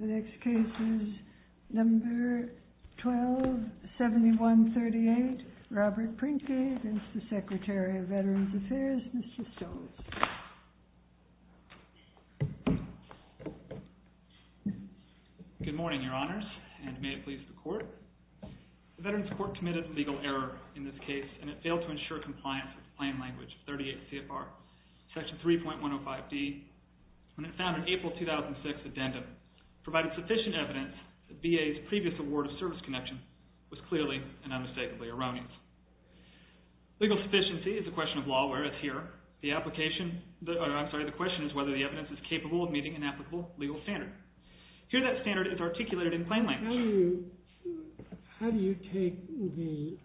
The next case is number 12-7138, Robert Prinke against the Secretary of Veterans Affairs, Mr. Stoltz. Robert Prinke Good morning, Your Honors, and may it please the Court. The Veterans Court committed a legal error in this case and it failed to ensure compliance with plain language 38 CFR. Section 3.105D, when it found in April 2006 addendum, provided sufficient evidence that VA's previous award of service connection was clearly and unmistakably erroneous. Legal sufficiency is a question of law where it's here. The application, I'm sorry, the question is whether the evidence is capable of meeting an applicable legal standard. Here that standard is articulated in plain language. How do you take the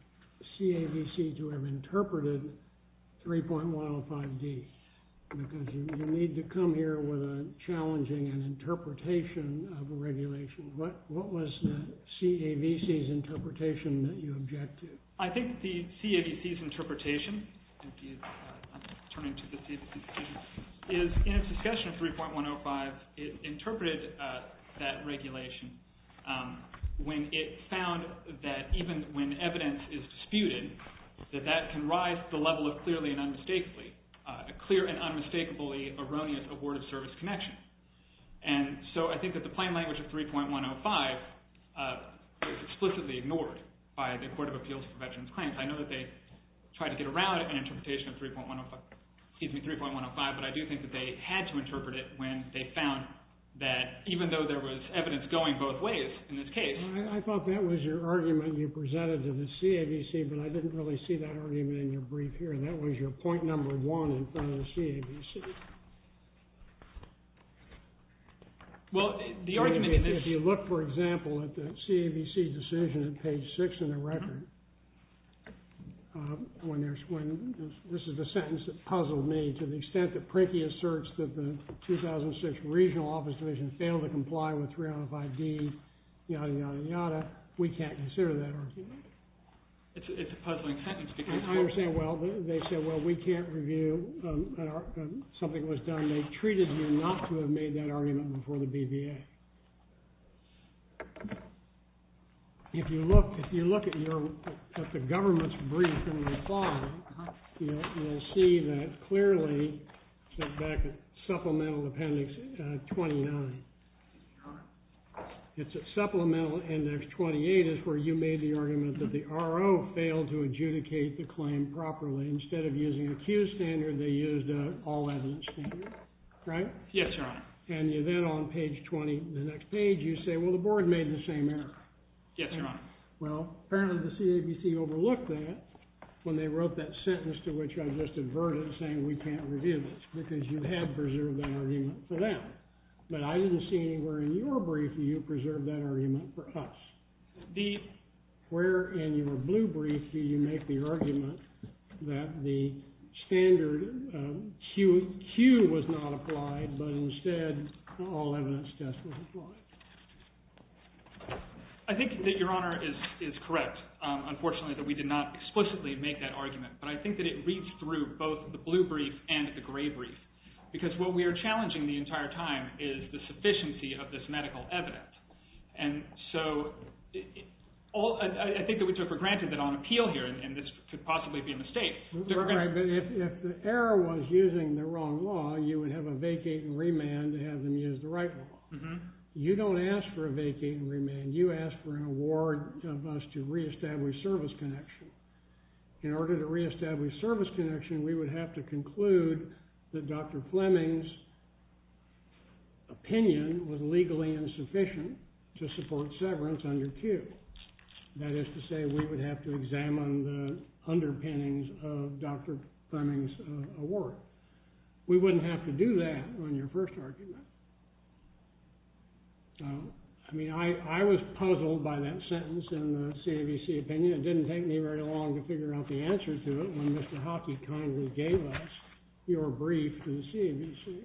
CAVC to have interpreted 3.105D? Because you need to come here with a challenging and interpretation of a regulation. What was the CAVC's interpretation that you object to? I think the CAVC's interpretation is, in its discussion of 3.105, it interpreted that regulation when it found that even when evidence is disputed, that that can rise to the level of clearly and unmistakably, a clear and unmistakably erroneous award of service connection. I think that the plain language of 3.105 was explicitly ignored by the Court of Appeals for Veterans Claims. I know that they tried to get around an interpretation of 3.105, but I do think that they had to I thought that was your argument you presented to the CAVC, but I didn't really see that argument in your brief here. That was your point number one in front of the CAVC. If you look, for example, at the CAVC decision at page 6 in the record, this is the sentence that puzzled me. To the extent that Prachy asserts that the 2006 Regional Office Division failed to comply with 3.105D, yada, yada, yada, we can't consider that argument. It's a puzzling sentence. I understand. Well, they said, well, we can't review something that was done. They treated you not to have made that argument before the BVA. If you look at the government's brief in your file, you'll see that clearly back at supplemental appendix 29. It's at supplemental index 28 is where you made the argument that the RO failed to adjudicate the claim properly. Instead of using a Q standard, they used an all-evidence standard, right? Yes, Your Honor. And then on page 20, the next page, you say, well, the board made the same error. Yes, Your Honor. Well, apparently the CAVC overlooked that when they wrote that sentence to which I just adverted saying we can't review it because you have preserved that argument for them. But I didn't see anywhere in your brief that you preserved that argument for us. Where in your blue brief do you make the argument that the standard Q was not applied, but instead an all-evidence test was applied? I think that Your Honor is correct, unfortunately, that we did not explicitly make that argument. But I think that it reads through both the blue brief and the gray brief because what we are challenging the entire time is the sufficiency of this medical evidence. And so I think it would take for granted that on appeal here, and this could possibly be a mistake. But if the error was using the wrong law, you would have a vacate and remand to have them use the right law. You don't ask for a vacate and remand. You ask for an award of us to reestablish service connection. In order to reestablish service connection, we would have to conclude that Dr. Fleming's opinion was legally insufficient to support severance under Q. That is to say, we would have to examine the underpinnings of Dr. Fleming's award. We wouldn't have to do that on your first argument. I mean, I was puzzled by that sentence in the CAVC opinion. It didn't take me very long to figure out the answer to it when Mr. Hockey kindly gave us your brief to the CAVC.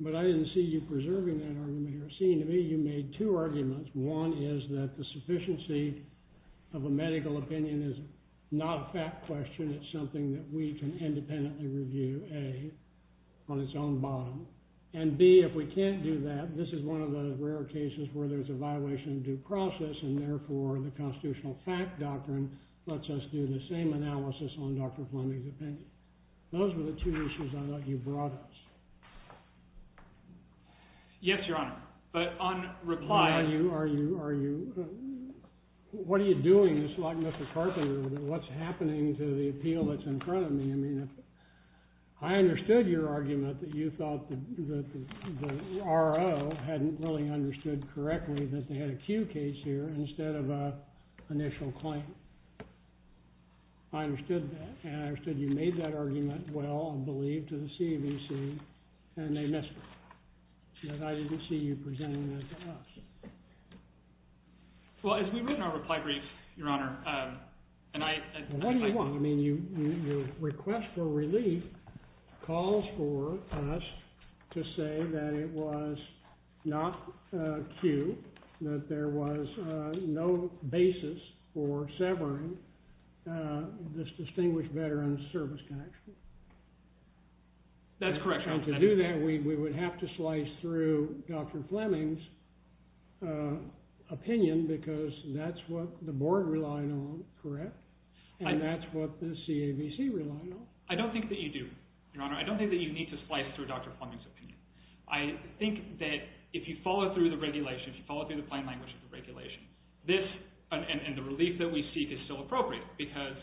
But I didn't see you preserving that argument here. It seemed to me you made two arguments. One is that the sufficiency of a medical opinion is not a fact question. It's something that we can independently review, A, on its own bottom. And, B, if we can't do that, this is one of those rare cases where there's a violation of due process, and therefore the constitutional fact doctrine lets us do the same analysis on Dr. Fleming's opinion. Those were the two issues I thought you brought us. Yes, Your Honor. But on reply— Are you—are you—are you—what are you doing? This is like Mr. Carpenter. What's happening to the appeal that's in front of me? I mean, I understood your argument that you thought the R.O. hadn't really understood correctly that they had a Q case here instead of an initial claim. I understood that, and I understood you made that argument well and believed to the CAVC, and they missed it. But I didn't see you presenting that to us. Well, as we read in our reply brief, Your Honor, and I— Well, what do you want? I mean, your request for relief calls for us to say that it was not Q, that there was no basis for severing this distinguished veteran's service connection. That's correct, Your Honor. And to do that, we would have to slice through Dr. Fleming's opinion because that's what the board relied on, correct? And that's what the CAVC relied on. I don't think that you do, Your Honor. I don't think that you need to slice through Dr. Fleming's opinion. I think that if you follow through the regulation, if you follow through the plain language of the regulation, this and the relief that we seek is still appropriate because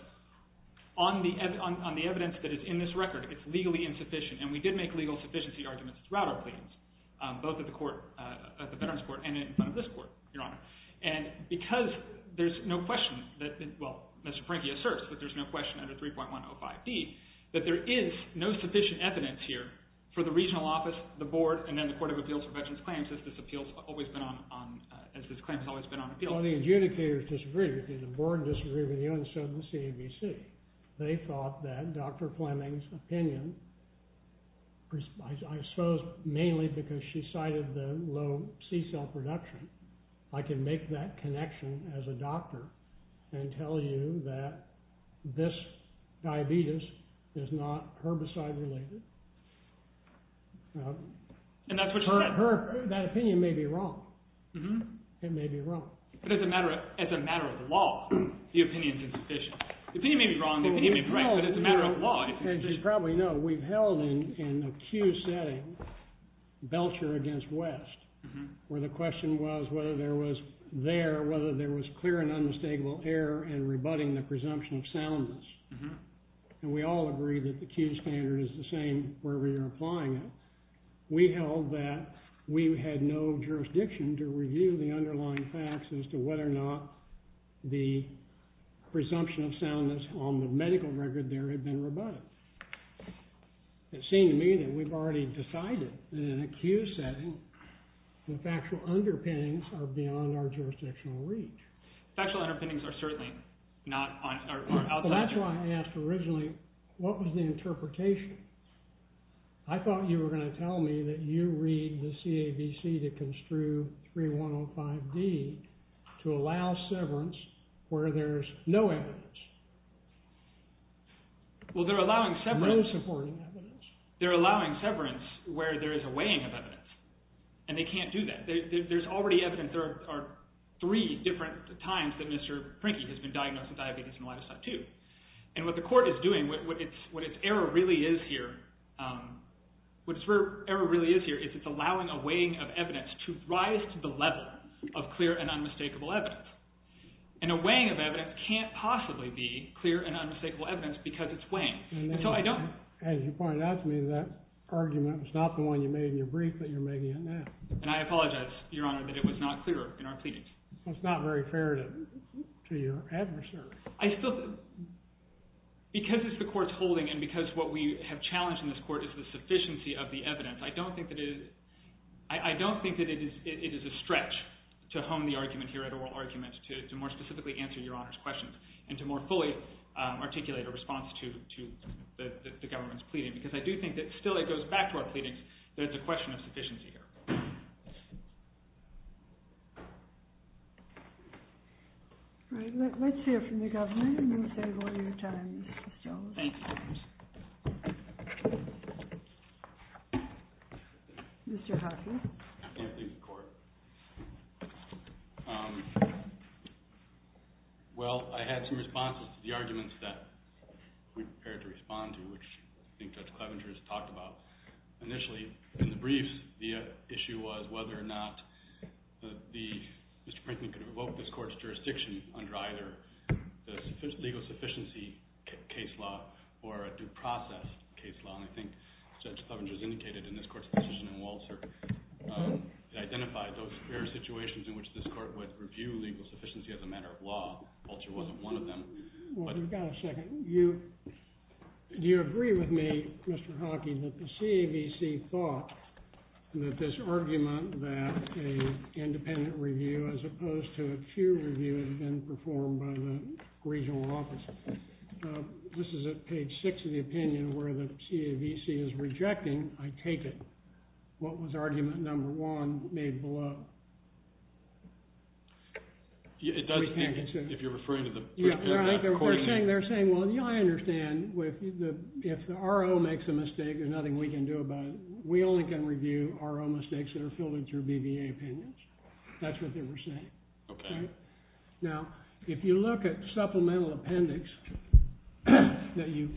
on the evidence that is in this record, it's legally insufficient, and we did make legal sufficiency arguments throughout our claims, both at the court—at the Veterans Court and in front of this court, Your Honor. And because there's no question that— well, Mr. Franke asserts that there's no question under 3.105d that there is no sufficient evidence here for the regional office, the board, and then the Court of Appeals for Veterans Claims as this claim has always been on appeal. Well, the adjudicators disagree with you. The board disagrees with you, and so does the CAVC. They thought that Dr. Fleming's opinion, I suppose mainly because she cited the low C-cell production, I can make that connection as a doctor and tell you that this diabetes is not herbicide-related. And that's what she said. That opinion may be wrong. It may be wrong. But as a matter of law, the opinion is insufficient. The opinion may be wrong, the opinion may be right, but it's a matter of law. As you probably know, we've held in a Q setting, Belcher against West, where the question was whether there was there, whether there was clear and unmistakable error in rebutting the presumption of soundness. And we all agree that the Q standard is the same wherever you're applying it. We held that we had no jurisdiction to review the underlying facts as to whether or not the presumption of soundness on the medical record there had been rebutted. It seemed to me that we've already decided in a Q setting that factual underpinnings are beyond our jurisdictional reach. Factual underpinnings are certainly not on our part. That's why I asked originally, what was the interpretation? I thought you were going to tell me that you read the CABC to construe 3105D to allow severance where there's no evidence. Well, they're allowing severance... No supporting evidence. They're allowing severance where there is a weighing of evidence, and they can't do that. There's already evidence. There are three different times that Mr. Prinky has been diagnosed with diabetes in a lifestyle, too. And what the court is doing, what its error really is here, what its error really is here is it's allowing a weighing of evidence to rise to the level of clear and unmistakable evidence. And a weighing of evidence can't possibly be clear and unmistakable evidence because it's weighing. And so I don't... As you pointed out to me, that argument was not the one you made in your brief, but you're making it now. And I apologize, Your Honor, that it was not clear in our pleadings. Well, it's not very fair to your adversary. Because it's the court's holding and because what we have challenged in this court is the sufficiency of the evidence, I don't think that it is a stretch to hone the argument here to more specifically answer Your Honor's questions and to more fully articulate a response to the government's pleading. Because I do think that still it goes back to our pleadings that it's a question of sufficiency here. All right, let's hear from the government and then we'll save a lot of your time, Mr. Stoneman. Thank you. Mr. Hawkins. Thank you, Court. Well, I had some responses to the arguments that we prepared to respond to, which I think Judge Clevenger has talked about initially. In the briefs, the issue was whether or not Mr. Prinkman could revoke this court's jurisdiction under either the legal sufficiency case law or a due process case law. And I think Judge Clevenger has indicated in this court's decision in Walser that identified those situations in which this court would review legal sufficiency as a matter of law. Walser wasn't one of them. Well, we've got a second. Do you agree with me, Mr. Hawkins, that the CAVC thought that this argument that an independent review as opposed to a peer review had been performed by the regional office? This is at page six of the opinion where the CAVC is rejecting, I take it. What was argument number one made below? It does, if you're referring to the... They're saying, well, I understand if the RO makes a mistake, there's nothing we can do about it. We only can review RO mistakes that are filtered through BBA opinions. That's what they were saying. Now, if you look at supplemental appendix that you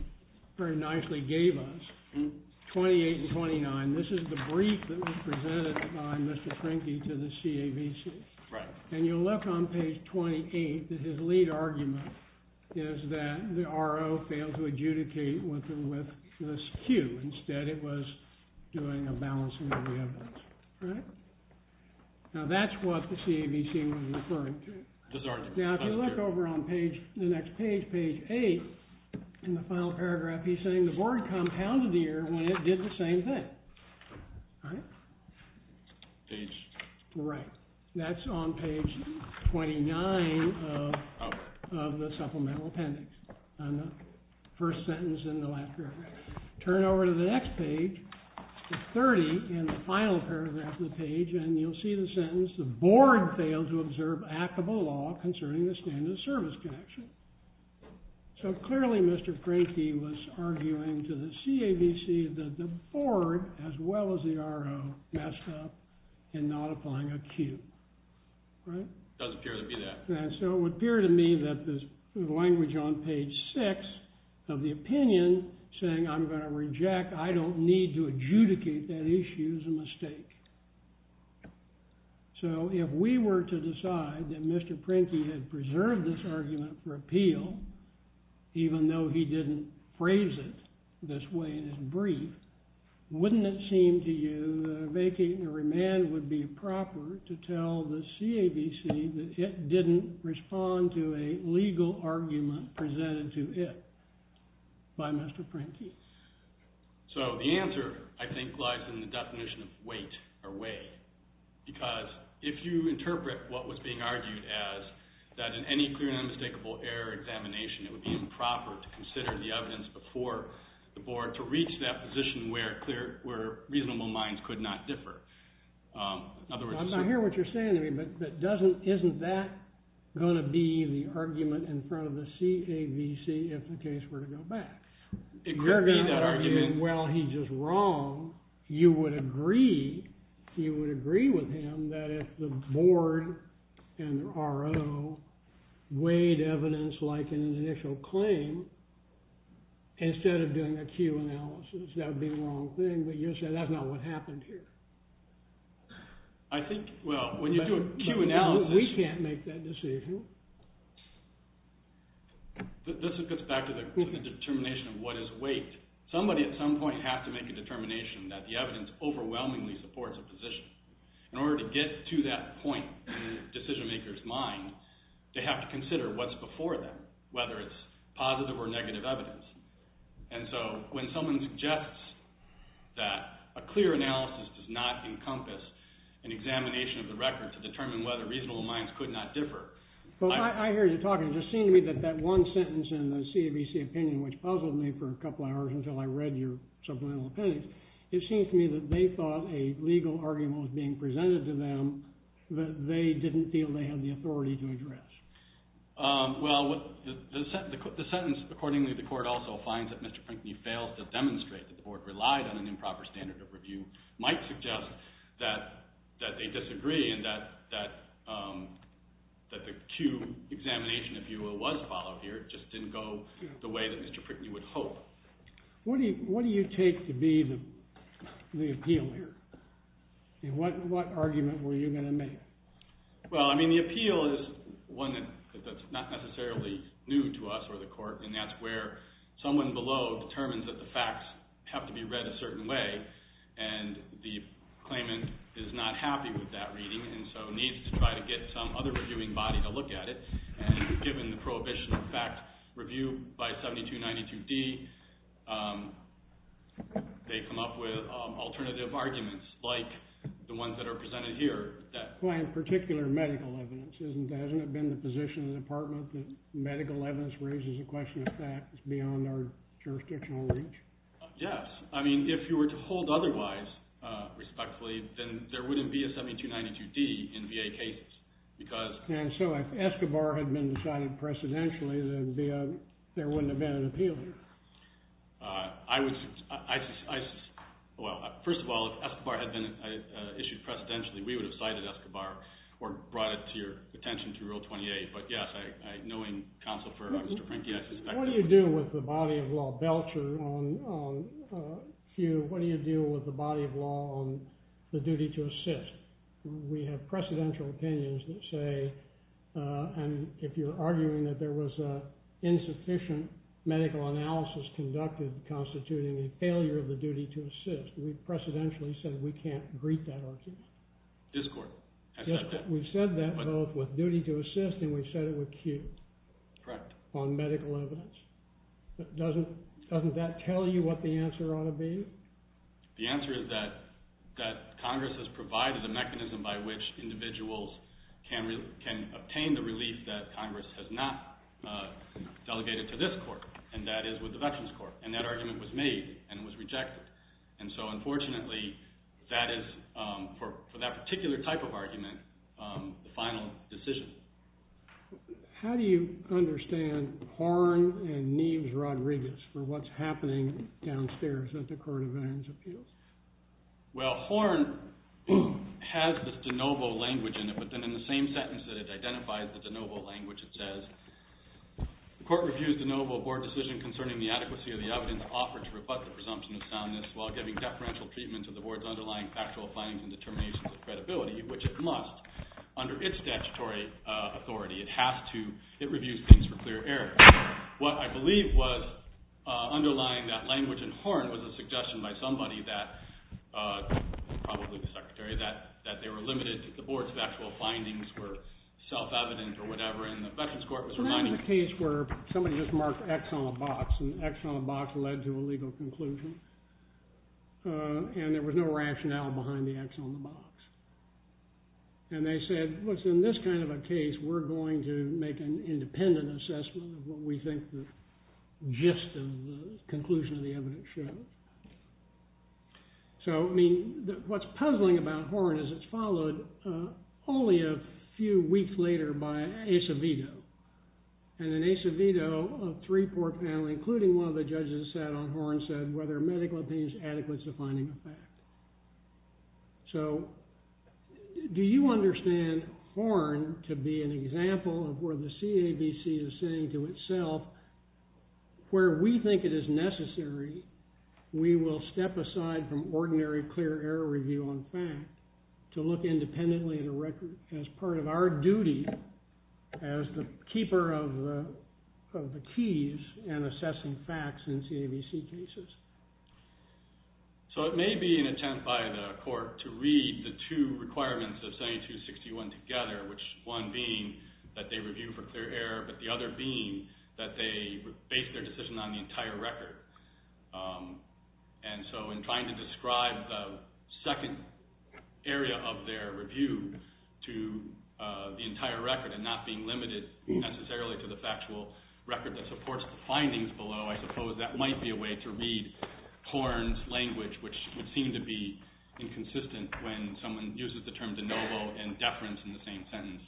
very nicely gave us, 28 and 29, this is the brief that was presented by Mr. Trinke to the CAVC. And you'll look on page 28 that his lead argument is that the RO failed to adjudicate with this cue. Instead, it was doing a balancing of the evidence. Now, that's what the CAVC was referring to. Now, if you look over on the next page, page eight, in the final paragraph, he's saying the board compounded the error when it did the same thing. Page... Right. That's on page 29 of the supplemental appendix, on the first sentence in the last paragraph. Turn over to the next page, page 30, in the final paragraph of the page, and you'll see the sentence, the board failed to observe actable law concerning the standard of service connection. So clearly, Mr. Trinke was arguing to the CAVC that the board, as well as the RO, messed up in not applying a cue. Right? It does appear to be that. So it would appear to me that the language on page six of the opinion saying, I'm going to reject, I don't need to adjudicate that issue, is a mistake. So if we were to decide that Mr. Trinke had preserved this argument for appeal, even though he didn't phrase it this way in his brief, wouldn't it seem to you that a vacating or remand would be proper to tell the CAVC that it didn't respond to a legal argument presented to it by Mr. Trinke? So the answer, I think, lies in the definition of wait or way, because if you interpret what was being argued as that in any clear and unmistakable error examination, it would be improper to consider the evidence before the board to reach that position where reasonable minds could not differ. I hear what you're saying to me, but isn't that going to be the argument in front of the CAVC if the case were to go back? It could be that argument. You're going to argue, well, he's just wrong. You would agree with him that if the board and the RO weighed evidence like an initial claim instead of doing a Q analysis, that would be the wrong thing, but you're saying that's not what happened here. I think, well, when you do a Q analysis... But we can't make that decision. This gets back to the determination of what is wait. Somebody at some point has to make a determination that the evidence overwhelmingly supports a position. In order to get to that point, decision-maker's mind, they have to consider what's before them, whether it's positive or negative evidence. And so when someone suggests that a clear analysis does not encompass an examination of the record to determine whether reasonable minds could not differ... I hear you talking. It just seemed to me that that one sentence in the CAVC opinion, which puzzled me for a couple hours until I read your supplemental opinion, it seems to me that they thought a legal argument was being presented to them that they didn't feel they had the authority to address. Well, the sentence, accordingly the court also finds that Mr. Prinkney fails to demonstrate the court relied on an improper standard of review, might suggest that they disagree and that the Q examination, if you will, was followed here. It just didn't go the way that Mr. Prinkney would hope. What do you take to be the appeal here? What argument were you going to make? Well, I mean, the appeal is one that's not necessarily new to us or the court, and that's where someone below determines that the facts have to be read a certain way and the claimant is not happy with that reading and so needs to try to get some other reviewing body to look at it. And given the prohibition of fact review by 7292D, they come up with alternative arguments like the ones that are presented here that... Well, in particular medical evidence. Hasn't it been the position of the department that medical evidence raises a question of fact that's beyond our jurisdictional reach? Yes. I mean, if you were to hold otherwise respectfully, then there wouldn't be a 7292D in VA cases because... And so if Escobar had been decided precedentially, then there wouldn't have been an appeal here. I would... Well, first of all, if Escobar had been issued precedentially, we would have cited Escobar or brought it to your attention through Rule 28. But yes, knowing counsel for Mr. Prinkney, I suspect... What do you do with the body of law? Belcher on cue, what do you do with the body of law on the duty to assist? We have precedential opinions that say... And if you're arguing that there was insufficient medical analysis conducted constituting a failure of the duty to assist, we've precedentially said we can't greet that argument. Discord. I said that. We've said that both with duty to assist and we've said it with cue. Correct. On medical evidence. Doesn't that tell you what the answer ought to be? The answer is that Congress has provided a mechanism by which individuals can obtain the relief that Congress has not delegated to this court, and that is with the Veterans Court. And that argument was made and it was rejected. And so, unfortunately, that is, for that particular type of argument, the final decision. How do you understand Horne and Neves Rodriguez for what's happening downstairs at the Court of Veterans Appeals? Well, Horne has this de novo language in it, but then in the same sentence that it identifies the de novo language, it says, the court reviews de novo board decision concerning the adequacy of the evidence offered to rebut the presumption of soundness while giving deferential treatment to the board's underlying factual findings and determinations of credibility, which it must under its statutory authority. It has to. It reviews things for clear error. What I believe was underlying that language in Horne was a suggestion by somebody that, probably the secretary, that they were limited to the board's factual findings were self-evident or whatever, and the Veterans Court was reminding... Well, that was a case where somebody just marked X on a box, and the X on the box led to a legal conclusion. And there was no rationale behind the X on the box. And they said, well, in this kind of a case, we're going to make an independent assessment of what we think the gist of the conclusion of the evidence shows. So, I mean, what's puzzling about Horne is it's followed only a few weeks later by Acevedo. And in Acevedo, a three-port panel, including one of the judges that sat on Horne, said whether medical opinion is adequate to finding a fact. So, do you understand Horne to be an example of where the CABC is saying to itself, where we think it is necessary, we will step aside from ordinary clear error review on fact to look independently as part of our duty as the keeper of the keys and assessing facts in CABC cases? So, it may be an attempt by the court to read the two requirements of 7261 together, which one being that they review for clear error, but the other being that they base their decision on the entire record. And so, in trying to describe the second area of their review to the entire record and not being limited necessarily to the factual record that supports the findings below, I suppose that might be a way to read Horne's language, which would seem to be inconsistent when someone uses the term de novo and deference in the same sentence.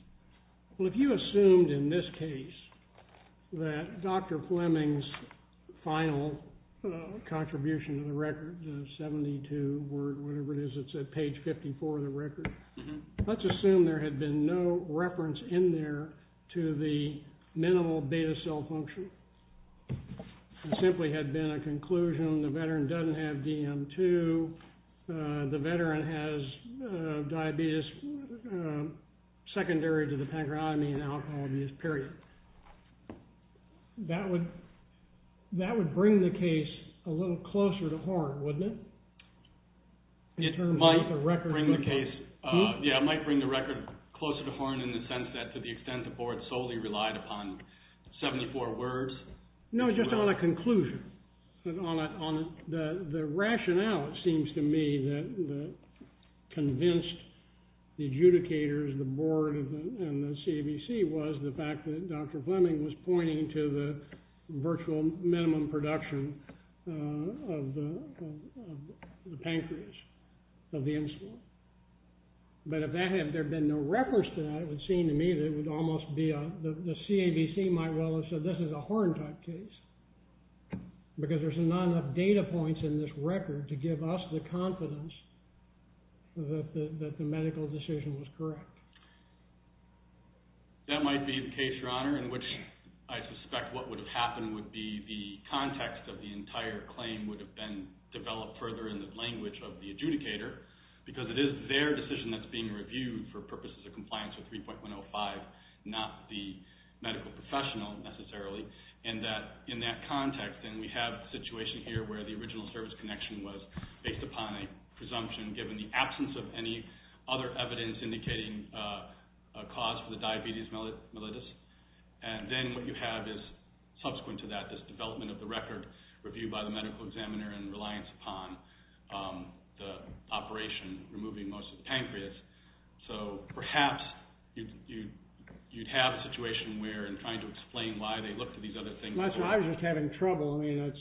Well, if you assumed in this case that Dr. Fleming's final contribution to the record, the 72 word, whatever it is, it's at page 54 of the record, let's assume there had been no reference in there to the minimal beta cell function. It simply had been a conclusion. The veteran doesn't have DM2. The veteran has diabetes secondary to the pancreatomy and alcohol abuse, period. That would bring the case a little closer to Horne, wouldn't it? It might bring the case... Yeah, it might bring the record closer to Horne in the sense that to the extent the board solely relied upon 74 words. No, just on a conclusion. The rationale, it seems to me, that convinced the adjudicators, the board, and the CBC was the fact that Dr. Fleming was pointing to the virtual minimum production of the pancreas, of the insulin. But if there had been no reference to that, it would seem to me that it would almost be... The CABC might well have said this is a Horne type case because there's not enough data points in this record to give us the confidence that the medical decision was correct. That might be the case, Your Honor, in which I suspect what would have happened would be the context of the entire claim would have been developed further in the language of the adjudicator because it is their decision that's being reviewed for purposes of compliance with 3.105, not the medical professional necessarily, and that in that context, and we have a situation here where the original service connection was based upon a presumption given the absence of any other evidence indicating a cause for the diabetes mellitus, and then what you have is subsequent to that this development of the record reviewed by the medical examiner in reliance upon the operation removing most of the pancreas. So perhaps you'd have a situation where, in trying to explain why they looked at these other things... Michael, I'm just having trouble. I mean,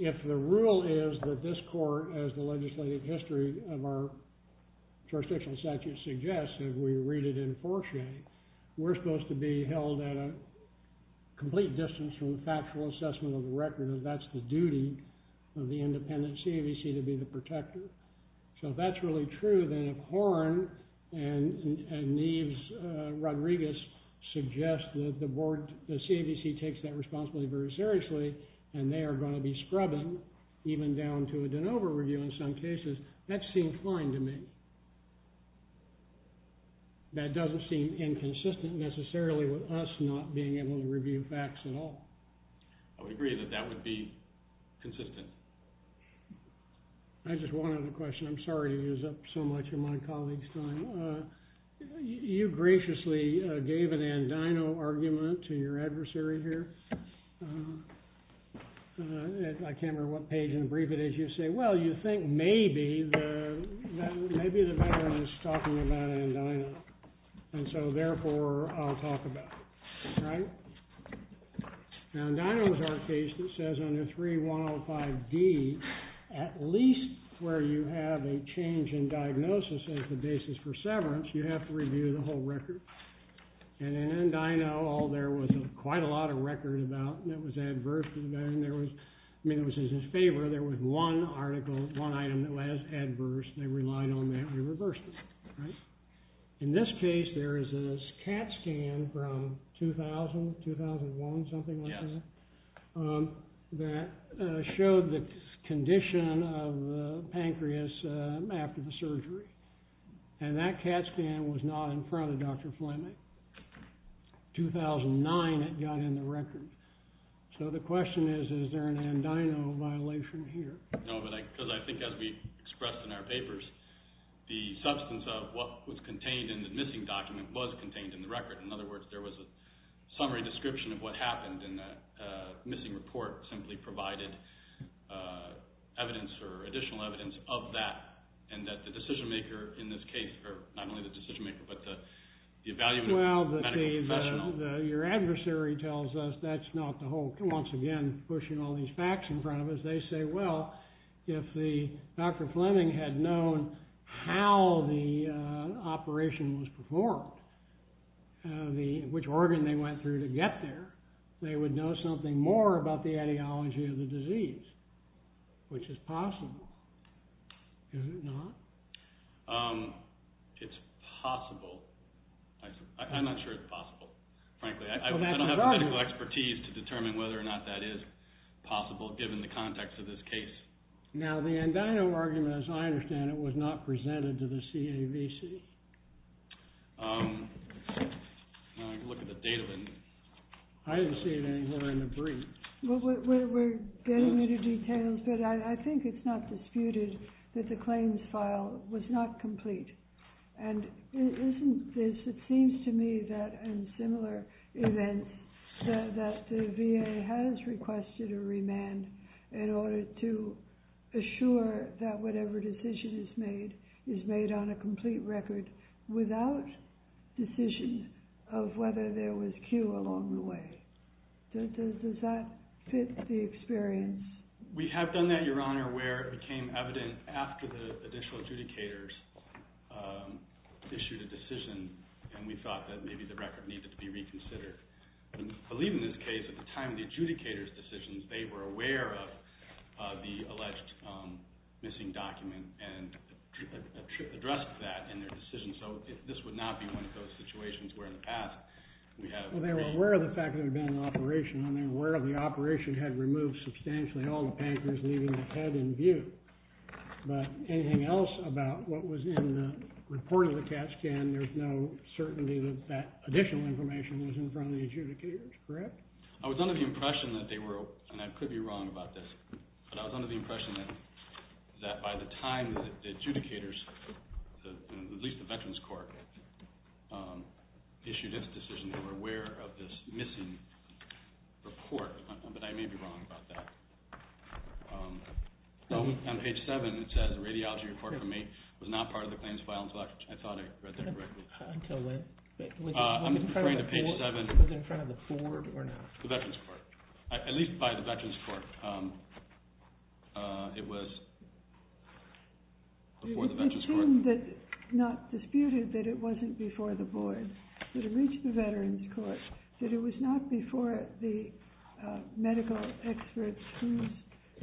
if the rule is that this court, as the legislative history of our jurisdictional statute suggests, if we read it in 4A, we're supposed to be held at a complete distance from the factual assessment of the record and that's the duty of the independent CAVC to be the protector. So if that's really true, then if Horne and Neves Rodriguez suggest that the CAVC takes that responsibility very seriously and they are going to be scrubbing, even down to a de novo review in some cases, that seems fine to me. That doesn't seem inconsistent necessarily with us not being able to review facts at all. I would agree that that would be consistent. I just wanted a question. I'm sorry to use up so much of my colleague's time. You graciously gave an andino argument to your adversary here. I can't remember what page in the brief it is. You say, well, you think maybe the veteran is talking about andino, and so therefore I'll talk about it, right? Andino is our case that says under 3.105D, at least where you have a change in diagnosis as the basis for severance, you have to review the whole record. And in andino, there was quite a lot of record that was adverse to the veteran. I mean, it was in his favor. There was one article, one item that was adverse. They relied on that and reversed it, right? In this case, there is this CAT scan from 2000, 2001, something like that, that showed the condition of the pancreas after the surgery. And that CAT scan was not in front of Dr. Flemming. 2009, it got in the record. So the question is, is there an andino violation here? No, because I think as we expressed in our papers, the substance of what was contained in the missing document was contained in the record. In other words, there was a summary description of what happened and a missing report simply provided evidence or additional evidence of that, and that the decision-maker in this case, or not only the decision-maker, but the evaluative medical professional... Well, your adversary tells us that's not the whole... Once again, pushing all these facts in front of us. They say, well, if Dr. Flemming had known how the operation was performed, which organ they went through to get there, they would know something more about the ideology of the disease, which is possible. Is it not? It's possible. I'm not sure it's possible, frankly. I don't have the medical expertise to determine whether or not that is possible, given the context of this case. Now, the andino argument, as I understand it, was not presented to the CAVC. Let me look at the data. I didn't see it anywhere in the brief. We're getting into details, but I think it's not disputed that the claims file was not complete. And it isn't this. It seems to me that in similar events that the VA has requested a remand in order to assure that whatever decision is made is made on a complete record without decision of whether there was cue along the way. Does that fit the experience? We have done that, Your Honor, where it became evident after the additional adjudicators issued a decision and we thought that maybe the record needed to be reconsidered. I believe in this case, at the time of the adjudicators' decisions, they were aware of the alleged missing document and addressed that in their decision. So this would not be one of those situations where in the past we had... Well, they were aware of the fact that it had been an operation and they were aware the operation had removed substantially all the pankers, leaving the head in view. But anything else about what was in the report of the CAT scan, there's no certainty that that additional information was in front of the adjudicators, correct? I was under the impression that they were, and I could be wrong about this, but I was under the impression that by the time the adjudicators, at least the Veterans Court, issued its decision, they were aware of this missing report, but I may be wrong about that. On page 7, it says, the radiology report from May was not part of the claims file, and so I thought I read that correctly. Until when? I'm afraid of page 7. Was it in front of the board or not? The Veterans Court. At least by the Veterans Court. It was before the Veterans Court. It seemed not disputed that it wasn't before the board, that it reached the Veterans Court, that it was not before the medical experts whose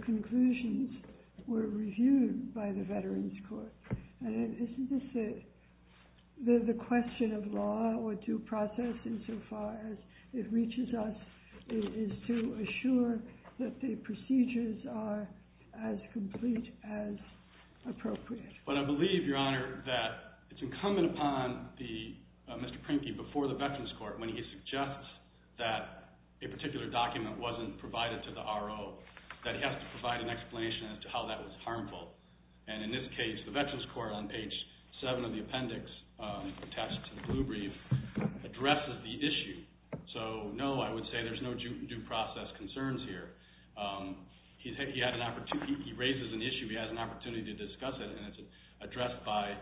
conclusions were reviewed by the Veterans Court. And isn't this the question of law or due process insofar as it reaches us is to assure that the procedures are as complete as appropriate? But I believe, Your Honor, that it's incumbent upon Mr. Prinky before the Veterans Court when he suggests that a particular document wasn't provided to the RO that he has to provide an explanation as to how that was harmful. And in this case, the Veterans Court, on page 7 of the appendix attached to the blue brief, addresses the issue. So no, I would say there's no due process concerns here. He raises an issue, he has an opportunity to discuss it, and it's addressed by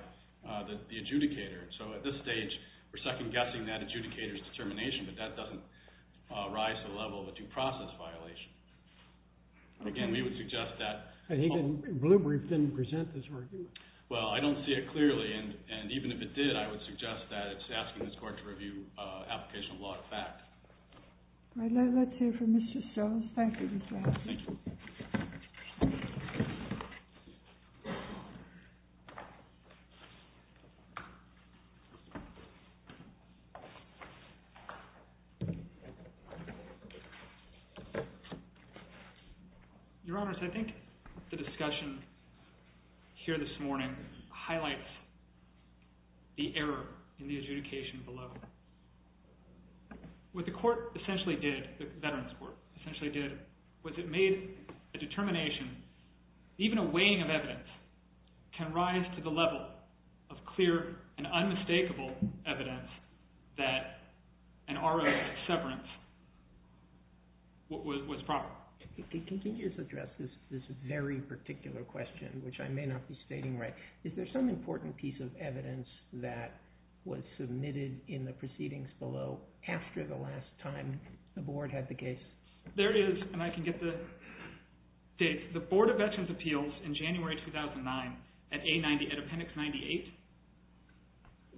the adjudicator. So at this stage, we're second-guessing that adjudicator's determination, but that doesn't rise to the level of a due process violation. Again, we would suggest that... The blue brief didn't present this argument. Well, I don't see it clearly, and even if it did, I would suggest that it's asking this court to review application of law-of-fact. All right, let's hear from Mr. Stokes. Thank you, Mr. Adams. Thank you. Your Honor, I think the discussion here this morning highlights the error in the adjudication below. What the court essentially did, the Veterans Court essentially did, was it made a determination, even a weighing of evidence, can rise to the level of clear and unmistakable evidence that an ROS severance was proper. Can you just address this very particular question, which I may not be stating right? Is there some important piece of evidence that was submitted in the proceedings below after the last time the Board had the case? There is, and I can get the dates. The Board of Veterans' Appeals in January 2009 at Appendix 98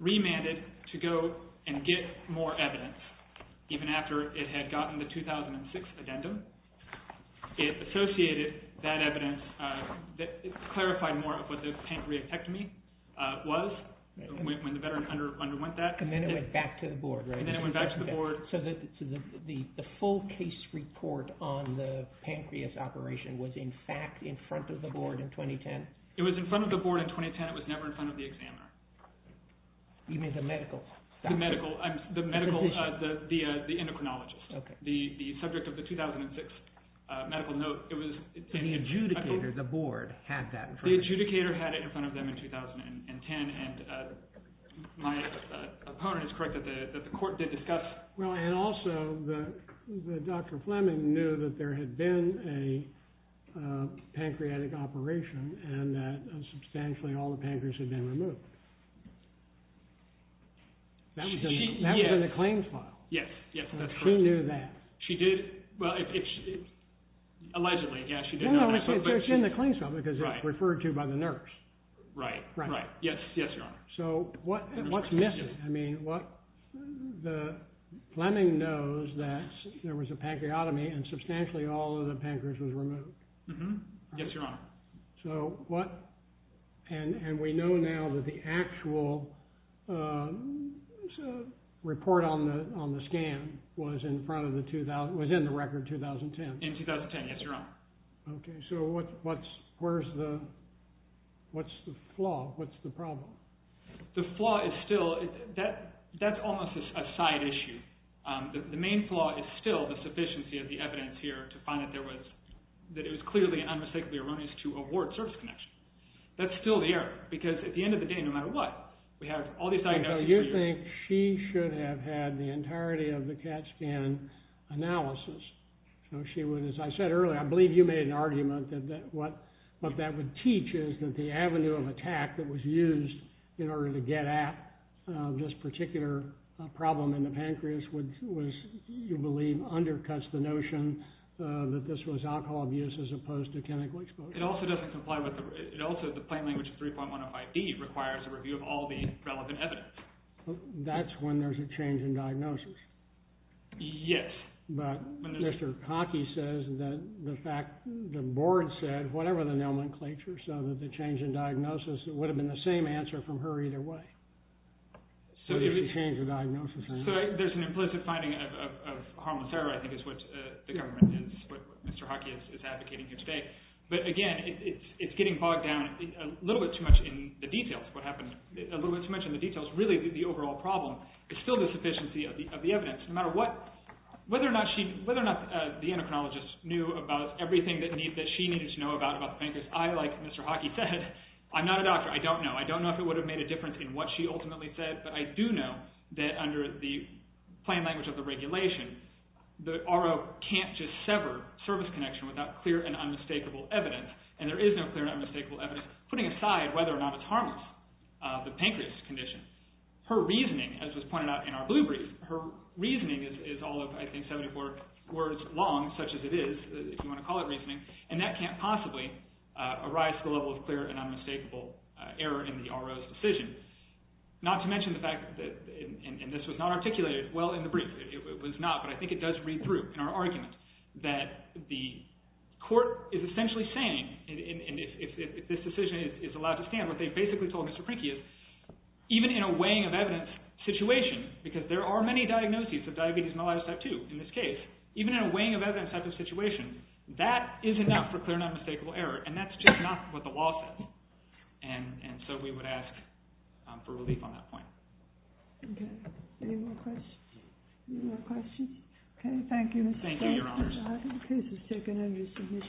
remanded to go and get more evidence, even after it had gotten the 2006 addendum. It associated that evidence, it clarified more of what the pancreatectomy was when the Veteran underwent that. And then it went back to the Board, right? And then it went back to the Board. So the full case report on the pancreas operation was in fact in front of the Board in 2010? It was in front of the Board in 2010. It was never in front of the examiner. You mean the medical doctor? The medical, the endocrinologist. The subject of the 2006 medical note. And the adjudicator, the Board, had that in front of them? The adjudicator had it in front of them in 2010, and my opponent is correct that the court did discuss Well, and also that Dr. Fleming knew that there had been a pancreatic operation and that substantially all the pancreas had been removed. That was in the claims file. Yes, yes, that's correct. She knew that. She did, well, allegedly, yes, she did. No, no, it's in the claims file because it's referred to by the nurse. Right, right. Yes, yes, Your Honor. So what's missing? I mean, Fleming knows that there was a pancreatomy and substantially all of the pancreas was removed. Yes, Your Honor. So what, and we know now that the actual report on the scan was in front of the, was in the record 2010. In 2010, yes, Your Honor. Okay, so what's, where's the, what's the flaw? What's the problem? The flaw is still, that's almost a side issue. The main flaw is still the sufficiency of the evidence here to find that there was, that it was clearly and unmistakably erroneous to award service connection. That's still the error because at the end of the day, no matter what, we have all these side notes. Okay, so you think she should have had the entirety of the CAT scan analysis. So she would, as I said earlier, I believe you made an argument that what that would teach is that the avenue of attack that was used in order to get at this particular problem in the pancreas would, was, you believe, undercuts the notion that this was alcohol abuse as opposed to chemical exposure. It also doesn't comply with the, it also, the plain language of 3.105B requires a review of all the relevant evidence. That's when there's a change in diagnosis. Yes. But Mr. Cockey says that the fact, the board said, whatever the nomenclature, so that the change in diagnosis, it would have been the same answer from her either way. So did she change her diagnosis or not? So there's an implicit finding of, of, of hormone therapy, I think is what the government is, what Mr. Hockey is, is advocating here today. But again, it's, it's getting bogged down a little bit too much in the details, what happened, a little bit too much in the details. Really, the overall problem is still the sufficiency of the, of the evidence. No matter what, whether or not she, whether or not the endocrinologist knew about everything that needed, that she needed to know about, about the pancreas. I, like Mr. Hockey said, I'm not a doctor. I don't know. I don't know if it would have made a difference in what she ultimately said. But I do know that under the plain language of the regulation, the RO can't just sever service connection without clear and unmistakable evidence. And there is no clear and unmistakable evidence, putting aside whether or not it's harmless, the pancreas condition. Her reasoning, as was pointed out in our blue brief, her reasoning is, is all of, I think, 74 words long, such as it is, if you want to call it reasoning. And that can't possibly arise to the level of clear and unmistakable error in the RO's decision. Not to mention the fact that, and this was not articulated well in the brief, it was not, but I think it does read through in our argument that the court is essentially saying, and if this decision is allowed to stand, what they basically told Mr. Prinky is, even in a weighing of evidence situation, because there are many diagnoses of diabetes myelitis type 2 in this case, even in a weighing of evidence type of situation, that is enough for clear and unmistakable error. And that's just not what the law says. And so we would ask for relief on that point. Okay. Any more questions? Okay, thank you, Mr. Bates. Thank you, Your Honors.